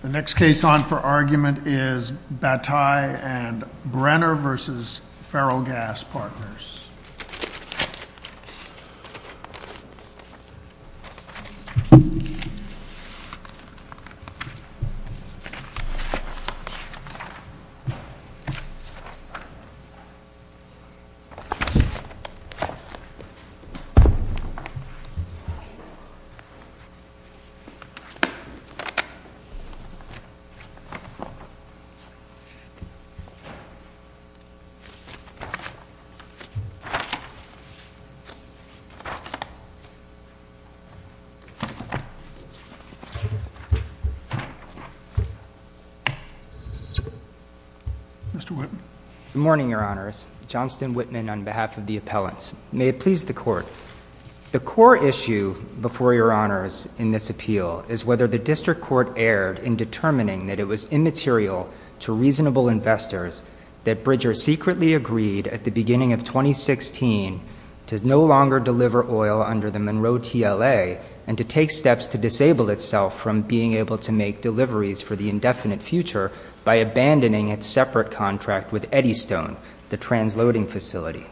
The next case on for argument is Bataille and Brenner versus Ferrellgas Partners. Mr. Whitman Good morning, your honors, Johnston Whitman on behalf of the appellants. May it please the court. The core issue before your honors in this appeal is whether the district court erred in determining that it was immaterial to reasonable investors that Bridger secretly agreed at the beginning of 2016 to no longer deliver oil under the Monroe TLA and to take steps to disable itself from being able to make deliveries for the indefinite future by abandoning its separate contract with Eddystone, the transloading facility.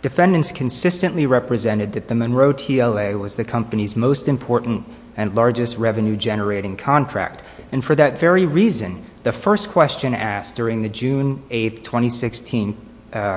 Defendants consistently represented that the Monroe TLA was the company's most important and largest revenue-generating contract. And for that very reason, the first question asked during the June 8, 2016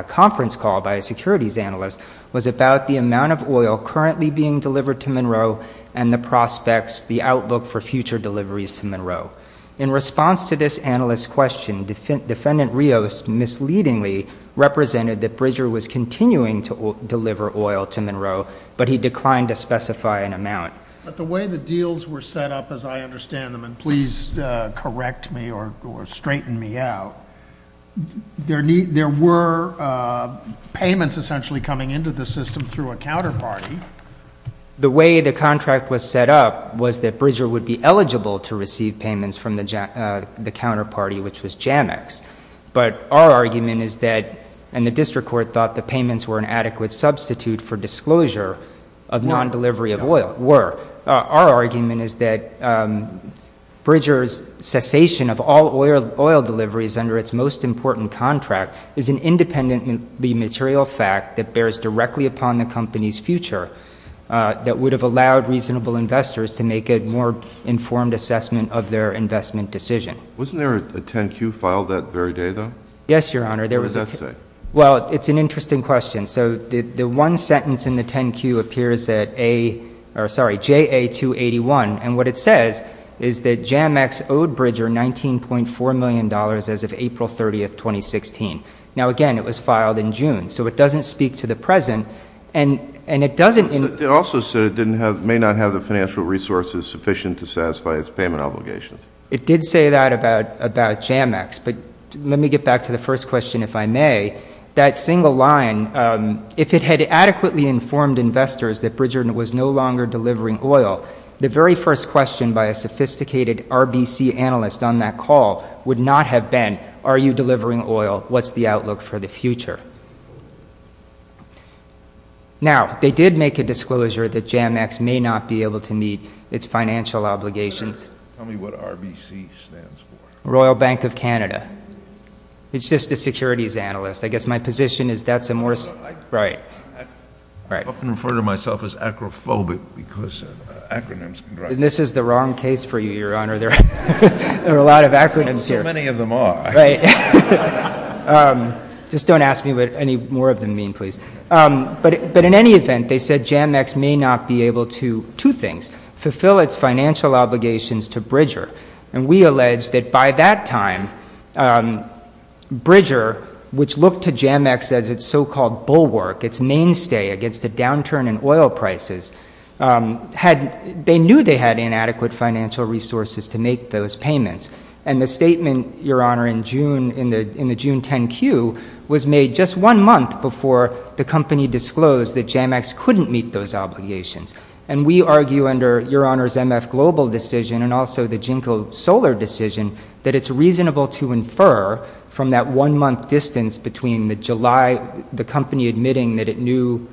conference call by a securities analyst was about the amount of oil currently being delivered to Monroe and the prospects, the outlook for future deliveries to Monroe. In response to this analyst's question, defendant Rios misleadingly represented that Bridger was continuing to deliver oil to Monroe, but he declined to deny it. But the way the deals were set up, as I understand them, and please correct me or straighten me out, there were payments essentially coming into the system through a counterparty. The way the contract was set up was that Bridger would be eligible to receive payments from the counterparty, which was Jamex. But our argument is that, and the district court thought the payments were an adequate substitute for disclosure of non-delivery of oil, were. Our argument is that Bridger's cessation of all oil deliveries under its most important contract is an independently material fact that bears directly upon the company's future, that would have allowed reasonable investors to make a more informed assessment of their investment decision. Wasn't there a 10-Q filed that very day, though? Yes, Your Honor. What does that say? Well, it's an interesting question. So the one sentence in the 10-Q appears that J.A. 281, and what it says is that Jamex owed Bridger $19.4 million as of April 30th, 2016. Now, again, it was filed in June. So it doesn't speak to the present, and it doesn't It also said it may not have the financial resources sufficient to satisfy its payment obligations. It did say that about Jamex. But let me get back to the first question, if I may. That single line, if it had adequately informed investors that Bridger was no longer delivering oil, the very first question by a sophisticated RBC analyst on that call would not have been, are you delivering oil? What's the outlook for the future? Now, they did make a disclosure that Jamex may not be able to meet its financial obligations. Tell me what RBC stands for. Royal Bank of Canada. It's just a securities analyst. I guess my position is that's a more I often refer to myself as acrophobic because acronyms can drive me crazy. This is the wrong case for you, Your Honor. There are a lot of acronyms here. So many of them are. Just don't ask me what any more of them mean, please. But in any event, they said Jamex may not be able to, two things, fulfill its financial obligations to Bridger. And we allege that by that time, Bridger, which looked to Jamex as its so-called bulwark, its mainstay against a downturn in oil prices, they knew they had inadequate financial resources to make those payments. And the statement, Your Honor, in the June 10 queue was made just one month before the Jamex obligations. And we argue under Your Honor's MF Global decision and also the JNCO Solar decision that it's reasonable to infer from that one-month distance between the July, the company admitting that it knew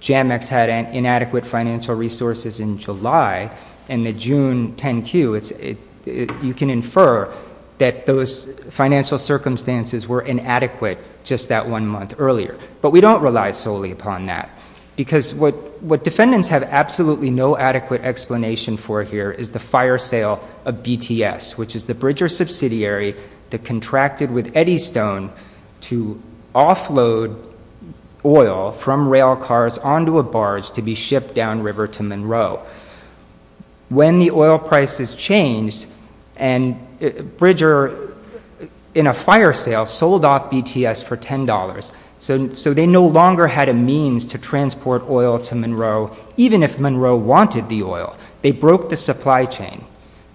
Jamex had inadequate financial resources in July and the June 10 queue, you can infer that those financial circumstances were inadequate just that one month earlier. But we don't rely solely upon that because what defendants have absolutely no adequate explanation for here is the fire sale of BTS, which is the Bridger subsidiary that contracted with Eddystone to offload oil from rail cars onto a barge to be shipped downriver to Monroe. When the oil prices changed and Bridger, in a fire sale, sold off BTS for $10. So they no longer had a means to transport oil to Monroe, even if Monroe wanted the oil. They broke the supply chain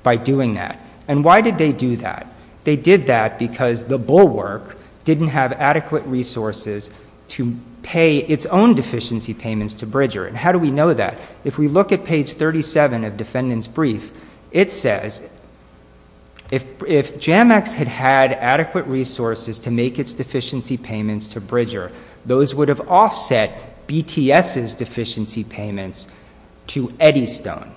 by doing that. And why did they do that? They did that because the bulwark didn't have adequate resources to pay its own deficiency payments to Bridger. And how do we know that? If we look at page 37 of defendant's brief, it says, if Jamex had had adequate resources to make its deficiency payments to Bridger, those would have offset BTS's deficiency payments to Eddystone.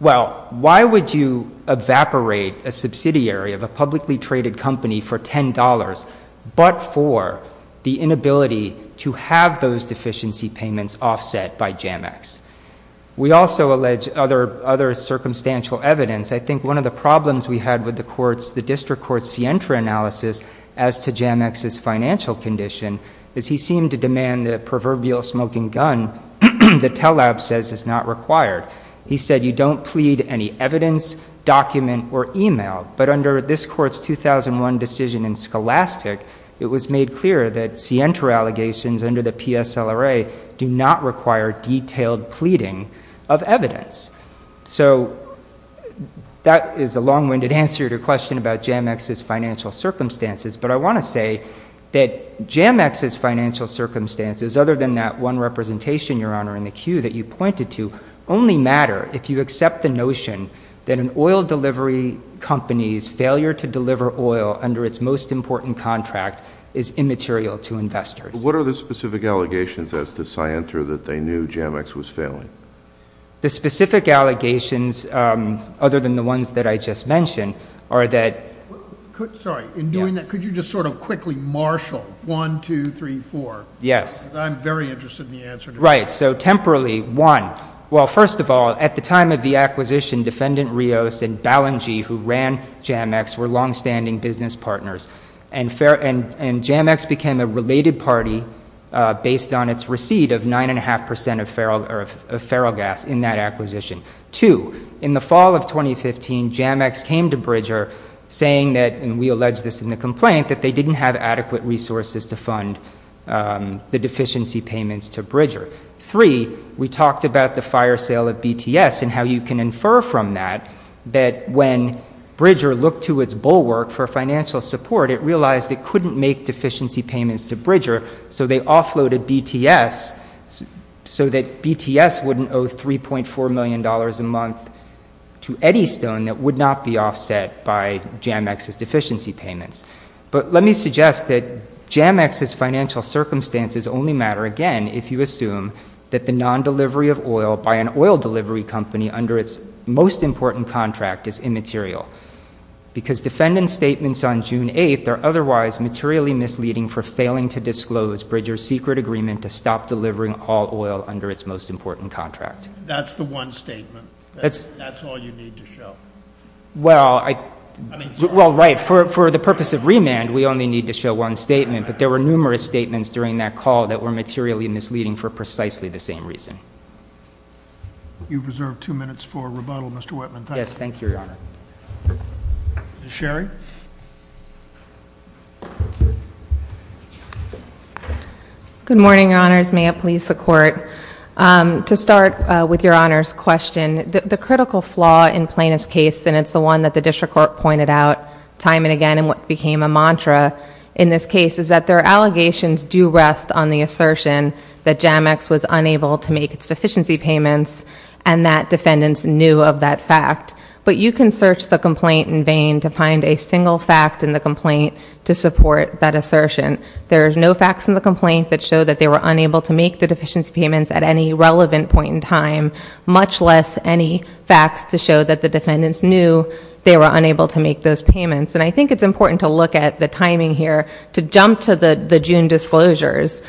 Well, why would you evaporate a subsidiary of a publicly traded company for $10 but for the inability to have those deficiency payments offset by Jamex? We also allege other circumstantial evidence. I think one of the problems we had with the district court's SIENTRA analysis as to Jamex's financial condition is he seemed to demand the proverbial smoking gun that TELAB says is not required. He said, you don't plead any evidence, document, or email. But under this court's 2001 decision in Scholastic, it was made clear that SIENTRA allegations under the PSLRA do not require detailed pleading of evidence. So that is a long-winded answer to a question about Jamex's financial circumstances. But I want to say that Jamex's financial circumstances, other than that one representation, Your Honor, in the queue that you pointed to, only matter if you accept the notion that an oil delivery company's failure to deliver oil under its most important contract is immaterial to investors. What are the specific allegations as to SIENTRA that they knew Jamex was failing? The specific allegations, other than the ones that I just mentioned, are that— Sorry. In doing that, could you just sort of quickly marshal 1, 2, 3, 4? Yes. Because I'm very interested in the answer to that. Right. So, temporally, one. Well, first of all, at the time of the acquisition, Defendant Rios and Ballingee, who ran Jamex, were longstanding business partners. And Jamex became a related party based on its receipt of 9.5 percent of ferrogas in that acquisition. Two, in the fall of 2015, Jamex came to Bridger saying that—and we allege this in the complaint—that they didn't have adequate resources to fund the deficiency payments to Bridger. Three, we talked about the fire sale of BTS and how you can infer from that that when it realized it couldn't make deficiency payments to Bridger, so they offloaded BTS so that BTS wouldn't owe $3.4 million a month to Eddystone that would not be offset by Jamex's deficiency payments. But let me suggest that Jamex's financial circumstances only matter, again, if you assume that the non-delivery of oil by an oil delivery company under its most important contract is immaterial. Because Defendant's statements on June 8th are otherwise materially misleading for failing to disclose Bridger's secret agreement to stop delivering all oil under its most important contract. That's the one statement? That's all you need to show? Well, right. For the purpose of remand, we only need to show one statement, but there were numerous statements during that call that were materially misleading for precisely the same reason. You've reserved two minutes for rebuttal, Mr. Whitman. Thank you. Thank you, Your Honor. Ms. Sherry? Good morning, Your Honors. May it please the Court. To start with Your Honor's question, the critical flaw in Plaintiff's case, and it's the one that the District Court pointed out time and again and what became a mantra in this case, is that their allegations do rest on the assertion that Jamex was unable to make its deficiency payments and that Defendants knew of that fact. But you can search the complaint in vain to find a single fact in the complaint to support that assertion. There's no facts in the complaint that show that they were unable to make the deficiency payments at any relevant point in time, much less any facts to show that the Defendants knew they were unable to make those payments. And I think it's important to look at the timing here to jump to the June disclosures.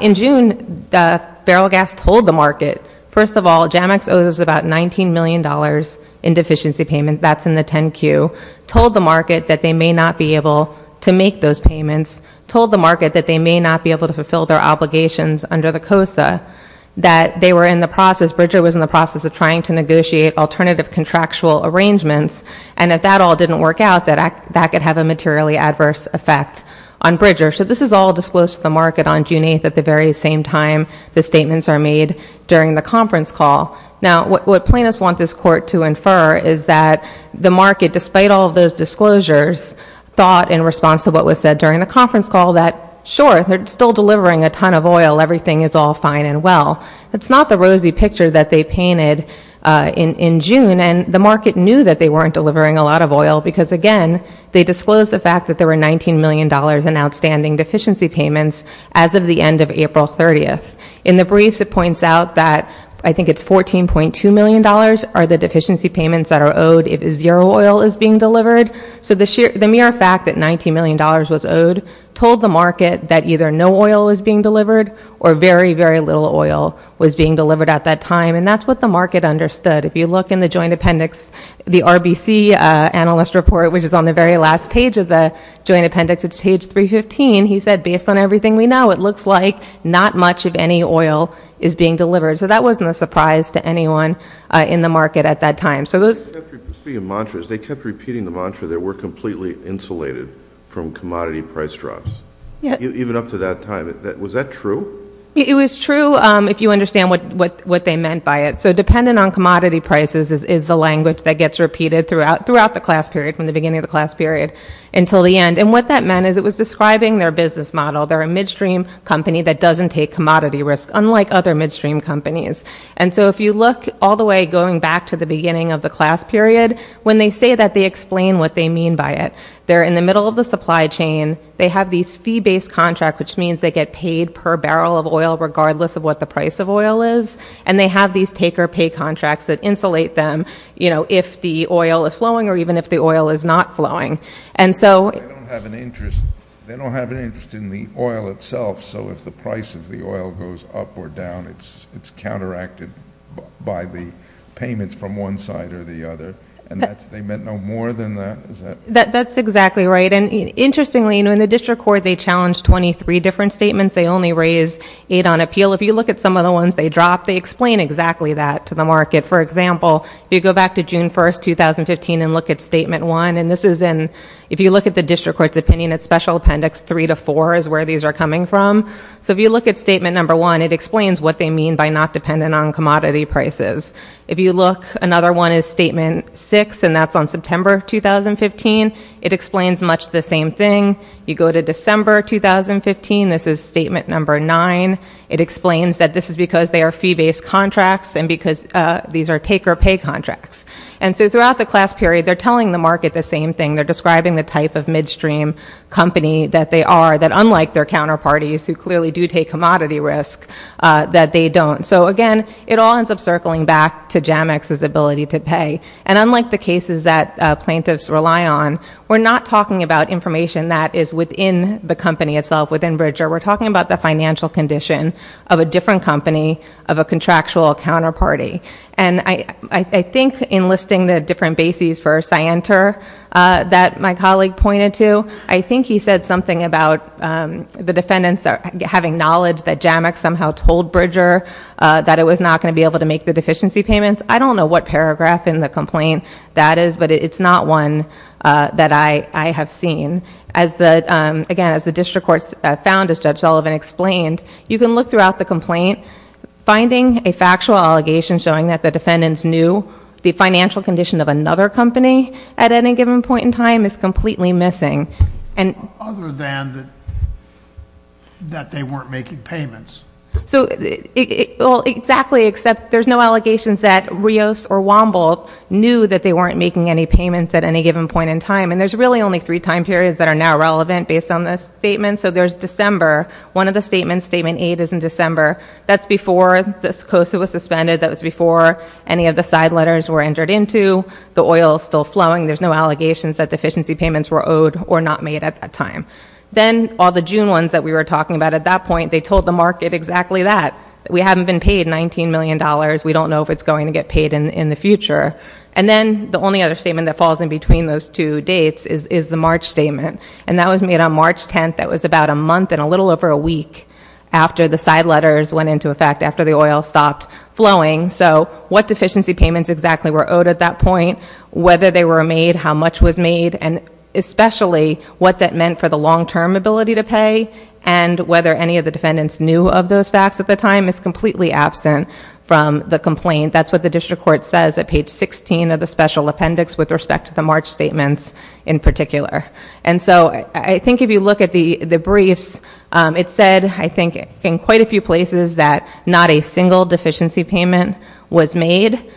In June, the barrel of gas told the market, first of all, Jamex owes about $19 million in deficiency payments, that's in the 10-Q, told the market that they may not be able to make those payments, told the market that they may not be able to fulfill their obligations under the COSA, that they were in the process, Bridger was in the process of trying to negotiate alternative contractual arrangements, and if that all didn't work out, that could have a materially adverse effect on Bridger. So this is all disclosed to the market on June 8th at the very same time the statements are made during the conference call. Now what plaintiffs want this Court to infer is that the market, despite all of those disclosures, thought in response to what was said during the conference call that, sure, they're still delivering a ton of oil, everything is all fine and well. It's not the rosy picture that they painted in June, and the market knew that they weren't delivering a lot of oil because, again, they disclosed the fact that there were $19 million in outstanding deficiency payments as of the end of April 30th. In the briefs, it points out that I think it's $14.2 million are the deficiency payments that are owed if zero oil is being delivered. So the mere fact that $19 million was owed told the market that either no oil was being delivered or very, very little oil was being delivered at that time, and that's what the market understood. If you look in the joint appendix, the RBC analyst report, which is on the very last page of the joint appendix, it's page 315, he said, based on everything we know, it looks like not much of any oil is being delivered. So that wasn't a surprise to anyone in the market at that time. So those... Speaking of mantras, they kept repeating the mantra that we're completely insulated from commodity price drops, even up to that time. Was that true? It was true, if you understand what they meant by it. So dependent on commodity prices is the language that gets repeated throughout the class period, until the end. And what that meant is it was describing their business model. They're a midstream company that doesn't take commodity risks, unlike other midstream companies. And so if you look all the way going back to the beginning of the class period, when they say that, they explain what they mean by it. They're in the middle of the supply chain. They have these fee-based contracts, which means they get paid per barrel of oil, regardless of what the price of oil is. And they have these take-or-pay contracts that insulate them, you know, if the oil is not flowing. And so... They don't have an interest in the oil itself. So if the price of the oil goes up or down, it's counteracted by the payments from one side or the other. And that's... They meant no more than that? Is that... That's exactly right. And interestingly, you know, in the district court, they challenged 23 different statements. They only raised eight on appeal. If you look at some of the ones they dropped, they explain exactly that to the market. For example, if you go back to June 1st, 2015, and look at Statement 1, and this is in... If you look at the district court's opinion, it's Special Appendix 3 to 4 is where these are coming from. So if you look at Statement 1, it explains what they mean by not dependent on commodity prices. If you look... Another one is Statement 6, and that's on September 2015. It explains much the same thing. You go to December 2015, this is Statement 9. It explains that this is because they are fee-based contracts, and because these are take-or-pay contracts. And so throughout the class period, they're telling the market the same thing. They're describing the type of midstream company that they are, that unlike their counterparties who clearly do take commodity risk, that they don't. So again, it all ends up circling back to Jamex's ability to pay. And unlike the cases that plaintiffs rely on, we're not talking about information that is within the company itself, within Bridger. We're talking about the financial condition of a different company, of a contractual counterparty. And I think in listing the different bases for Scienter that my colleague pointed to, I think he said something about the defendants having knowledge that Jamex somehow told Bridger that it was not going to be able to make the deficiency payments. I don't know what paragraph in the complaint that is, but it's not one that I have seen. Again, as the district court found, as Judge Sullivan explained, you can look throughout the complaint, finding a factual allegation showing that the defendants knew the financial condition of another company at any given point in time is completely missing. And- Other than that they weren't making payments. So, well, exactly, except there's no allegations that Rios or Wamboldt knew that they weren't making any payments at any given point in time. And there's really only three time periods that are now relevant based on this statement. So there's December, one of the statements, statement eight is in December. That's before the COSA was suspended, that was before any of the side letters were entered into. The oil is still flowing, there's no allegations that deficiency payments were owed or not made at that time. Then all the June ones that we were talking about at that point, they told the market exactly that. We haven't been paid $19 million, we don't know if it's going to get paid in the future. And then the only other statement that falls in between those two dates is the March statement. And that was made on March 10th, that was about a month and a little over a week after the side letters went into effect, after the oil stopped flowing. So what deficiency payments exactly were owed at that point, whether they were made, how much was made, and especially what that meant for the long-term ability to pay, and whether any of the defendants knew of those facts at the time is completely absent from the complaint. That's what the district court says at page 16 of the special appendix with respect to the March statements in particular. And so I think if you look at the briefs, it said, I think, in quite a few places that not a single deficiency payment was made.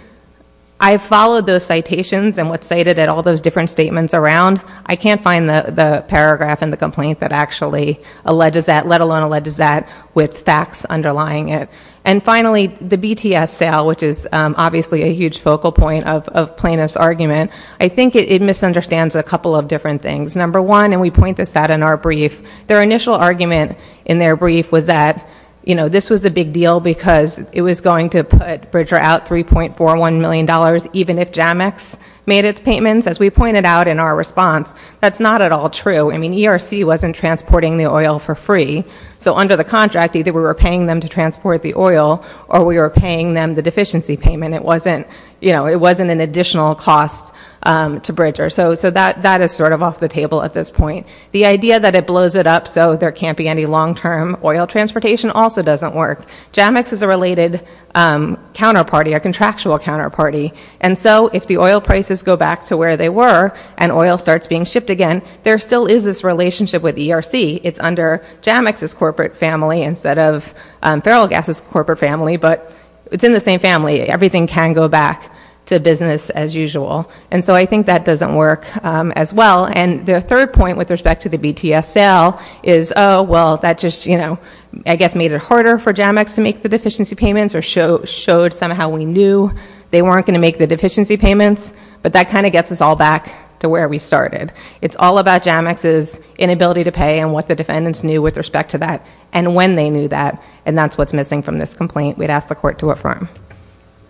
I followed those citations and what's cited at all those different statements around. I can't find the paragraph in the complaint that actually alleges that, let alone alleges that with facts underlying it. And finally, the BTS sale, which is obviously a huge focal point of plaintiff's argument. I think it misunderstands a couple of different things. Number one, and we point this out in our brief, their initial argument in their brief was that this was a big deal because it was going to put Bridger out $3.41 million even if Jamex made its payments. As we pointed out in our response, that's not at all true. I mean, ERC wasn't transporting the oil for free. So under the contract, either we were paying them to transport the oil or we were paying them the deficiency payment. It wasn't an additional cost to Bridger. So that is sort of off the table at this point. The idea that it blows it up so there can't be any long term oil transportation also doesn't work. Jamex is a related counterparty, a contractual counterparty. And so if the oil prices go back to where they were and oil starts being shipped again, there still is this relationship with ERC. It's under Jamex's corporate family instead of Feral Gas's corporate family, but it's in the same family. Everything can go back to business as usual. And so I think that doesn't work as well. And the third point with respect to the BTSL is, well, that just, I guess, made it harder for Jamex to make the deficiency payments or showed somehow we knew they weren't going to make the deficiency payments. But that kind of gets us all back to where we started. It's all about Jamex's inability to pay and what the defendants knew with respect to that and when they knew that. And that's what's missing from this complaint. We'd ask the court to affirm.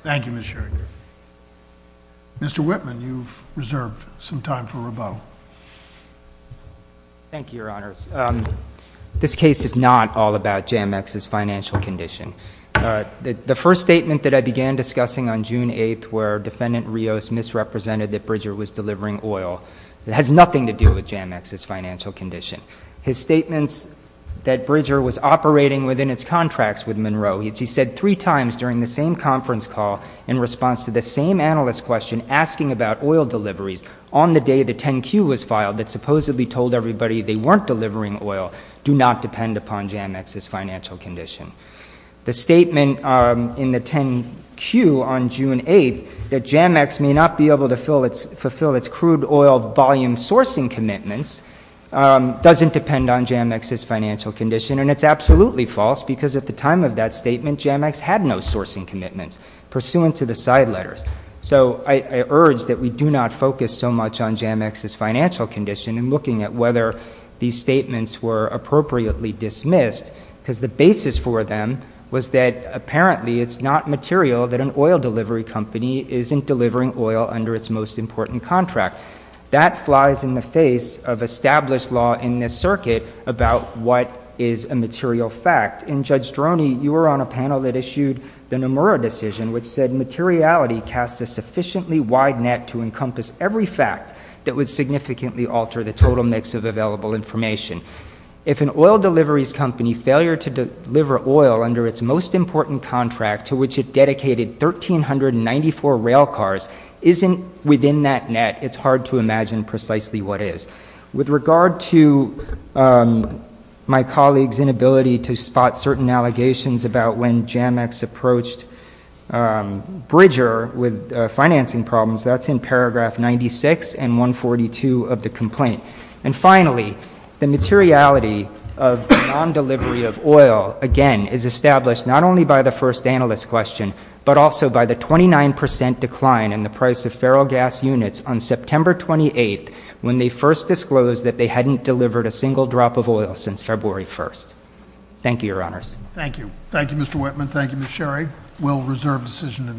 Thank you, Ms. Sherry. Mr. Whitman, you've reserved some time for rebuttal. Thank you, Your Honors. This case is not all about Jamex's financial condition. The first statement that I began discussing on June 8th where Defendant Rios misrepresented that Bridger was delivering oil. It has nothing to do with Jamex's financial condition. His statements that Bridger was operating within its contracts with Monroe, which he said three times during the same conference call in response to the same analyst question asking about oil deliveries on the day the 10Q was filed that supposedly told everybody they weren't delivering oil, do not depend upon Jamex's financial condition. The statement in the 10Q on June 8th that Jamex may not be able to fulfill its crude oil volume sourcing commitments doesn't depend on Jamex's financial condition and it's absolutely false because at the time of that statement, Jamex had no sourcing commitments pursuant to the side letters. So I urge that we do not focus so much on Jamex's financial condition and looking at whether these statements were appropriately dismissed because the basis for them was that apparently it's not material that an oil delivery company isn't delivering oil under its most important contract. That flies in the face of established law in this circuit about what is a material fact. In Judge Stroni, you were on a panel that issued the Nomura decision, which said materiality cast a sufficiently wide net to encompass every fact that would significantly alter the total mix of available information. If an oil deliveries company failure to deliver oil under its most important contract to which it dedicated 1,394 rail cars isn't within that net, it's hard to imagine precisely what is. With regard to my colleague's inability to spot certain allegations about when Jamex approached Bridger with financing problems, that's in paragraph 96 and 142 of the complaint. And finally, the materiality of non-delivery of oil, again, is established not only by the first analyst question, but also by the 29% decline in the price of ferro gas units on September 28th when they first disclosed that they hadn't delivered a single drop of oil since February 1st. Thank you, your honors. Thank you. Thank you, Mr. Whitman. Thank you, Ms. Sherry. We'll reserve decision in this case.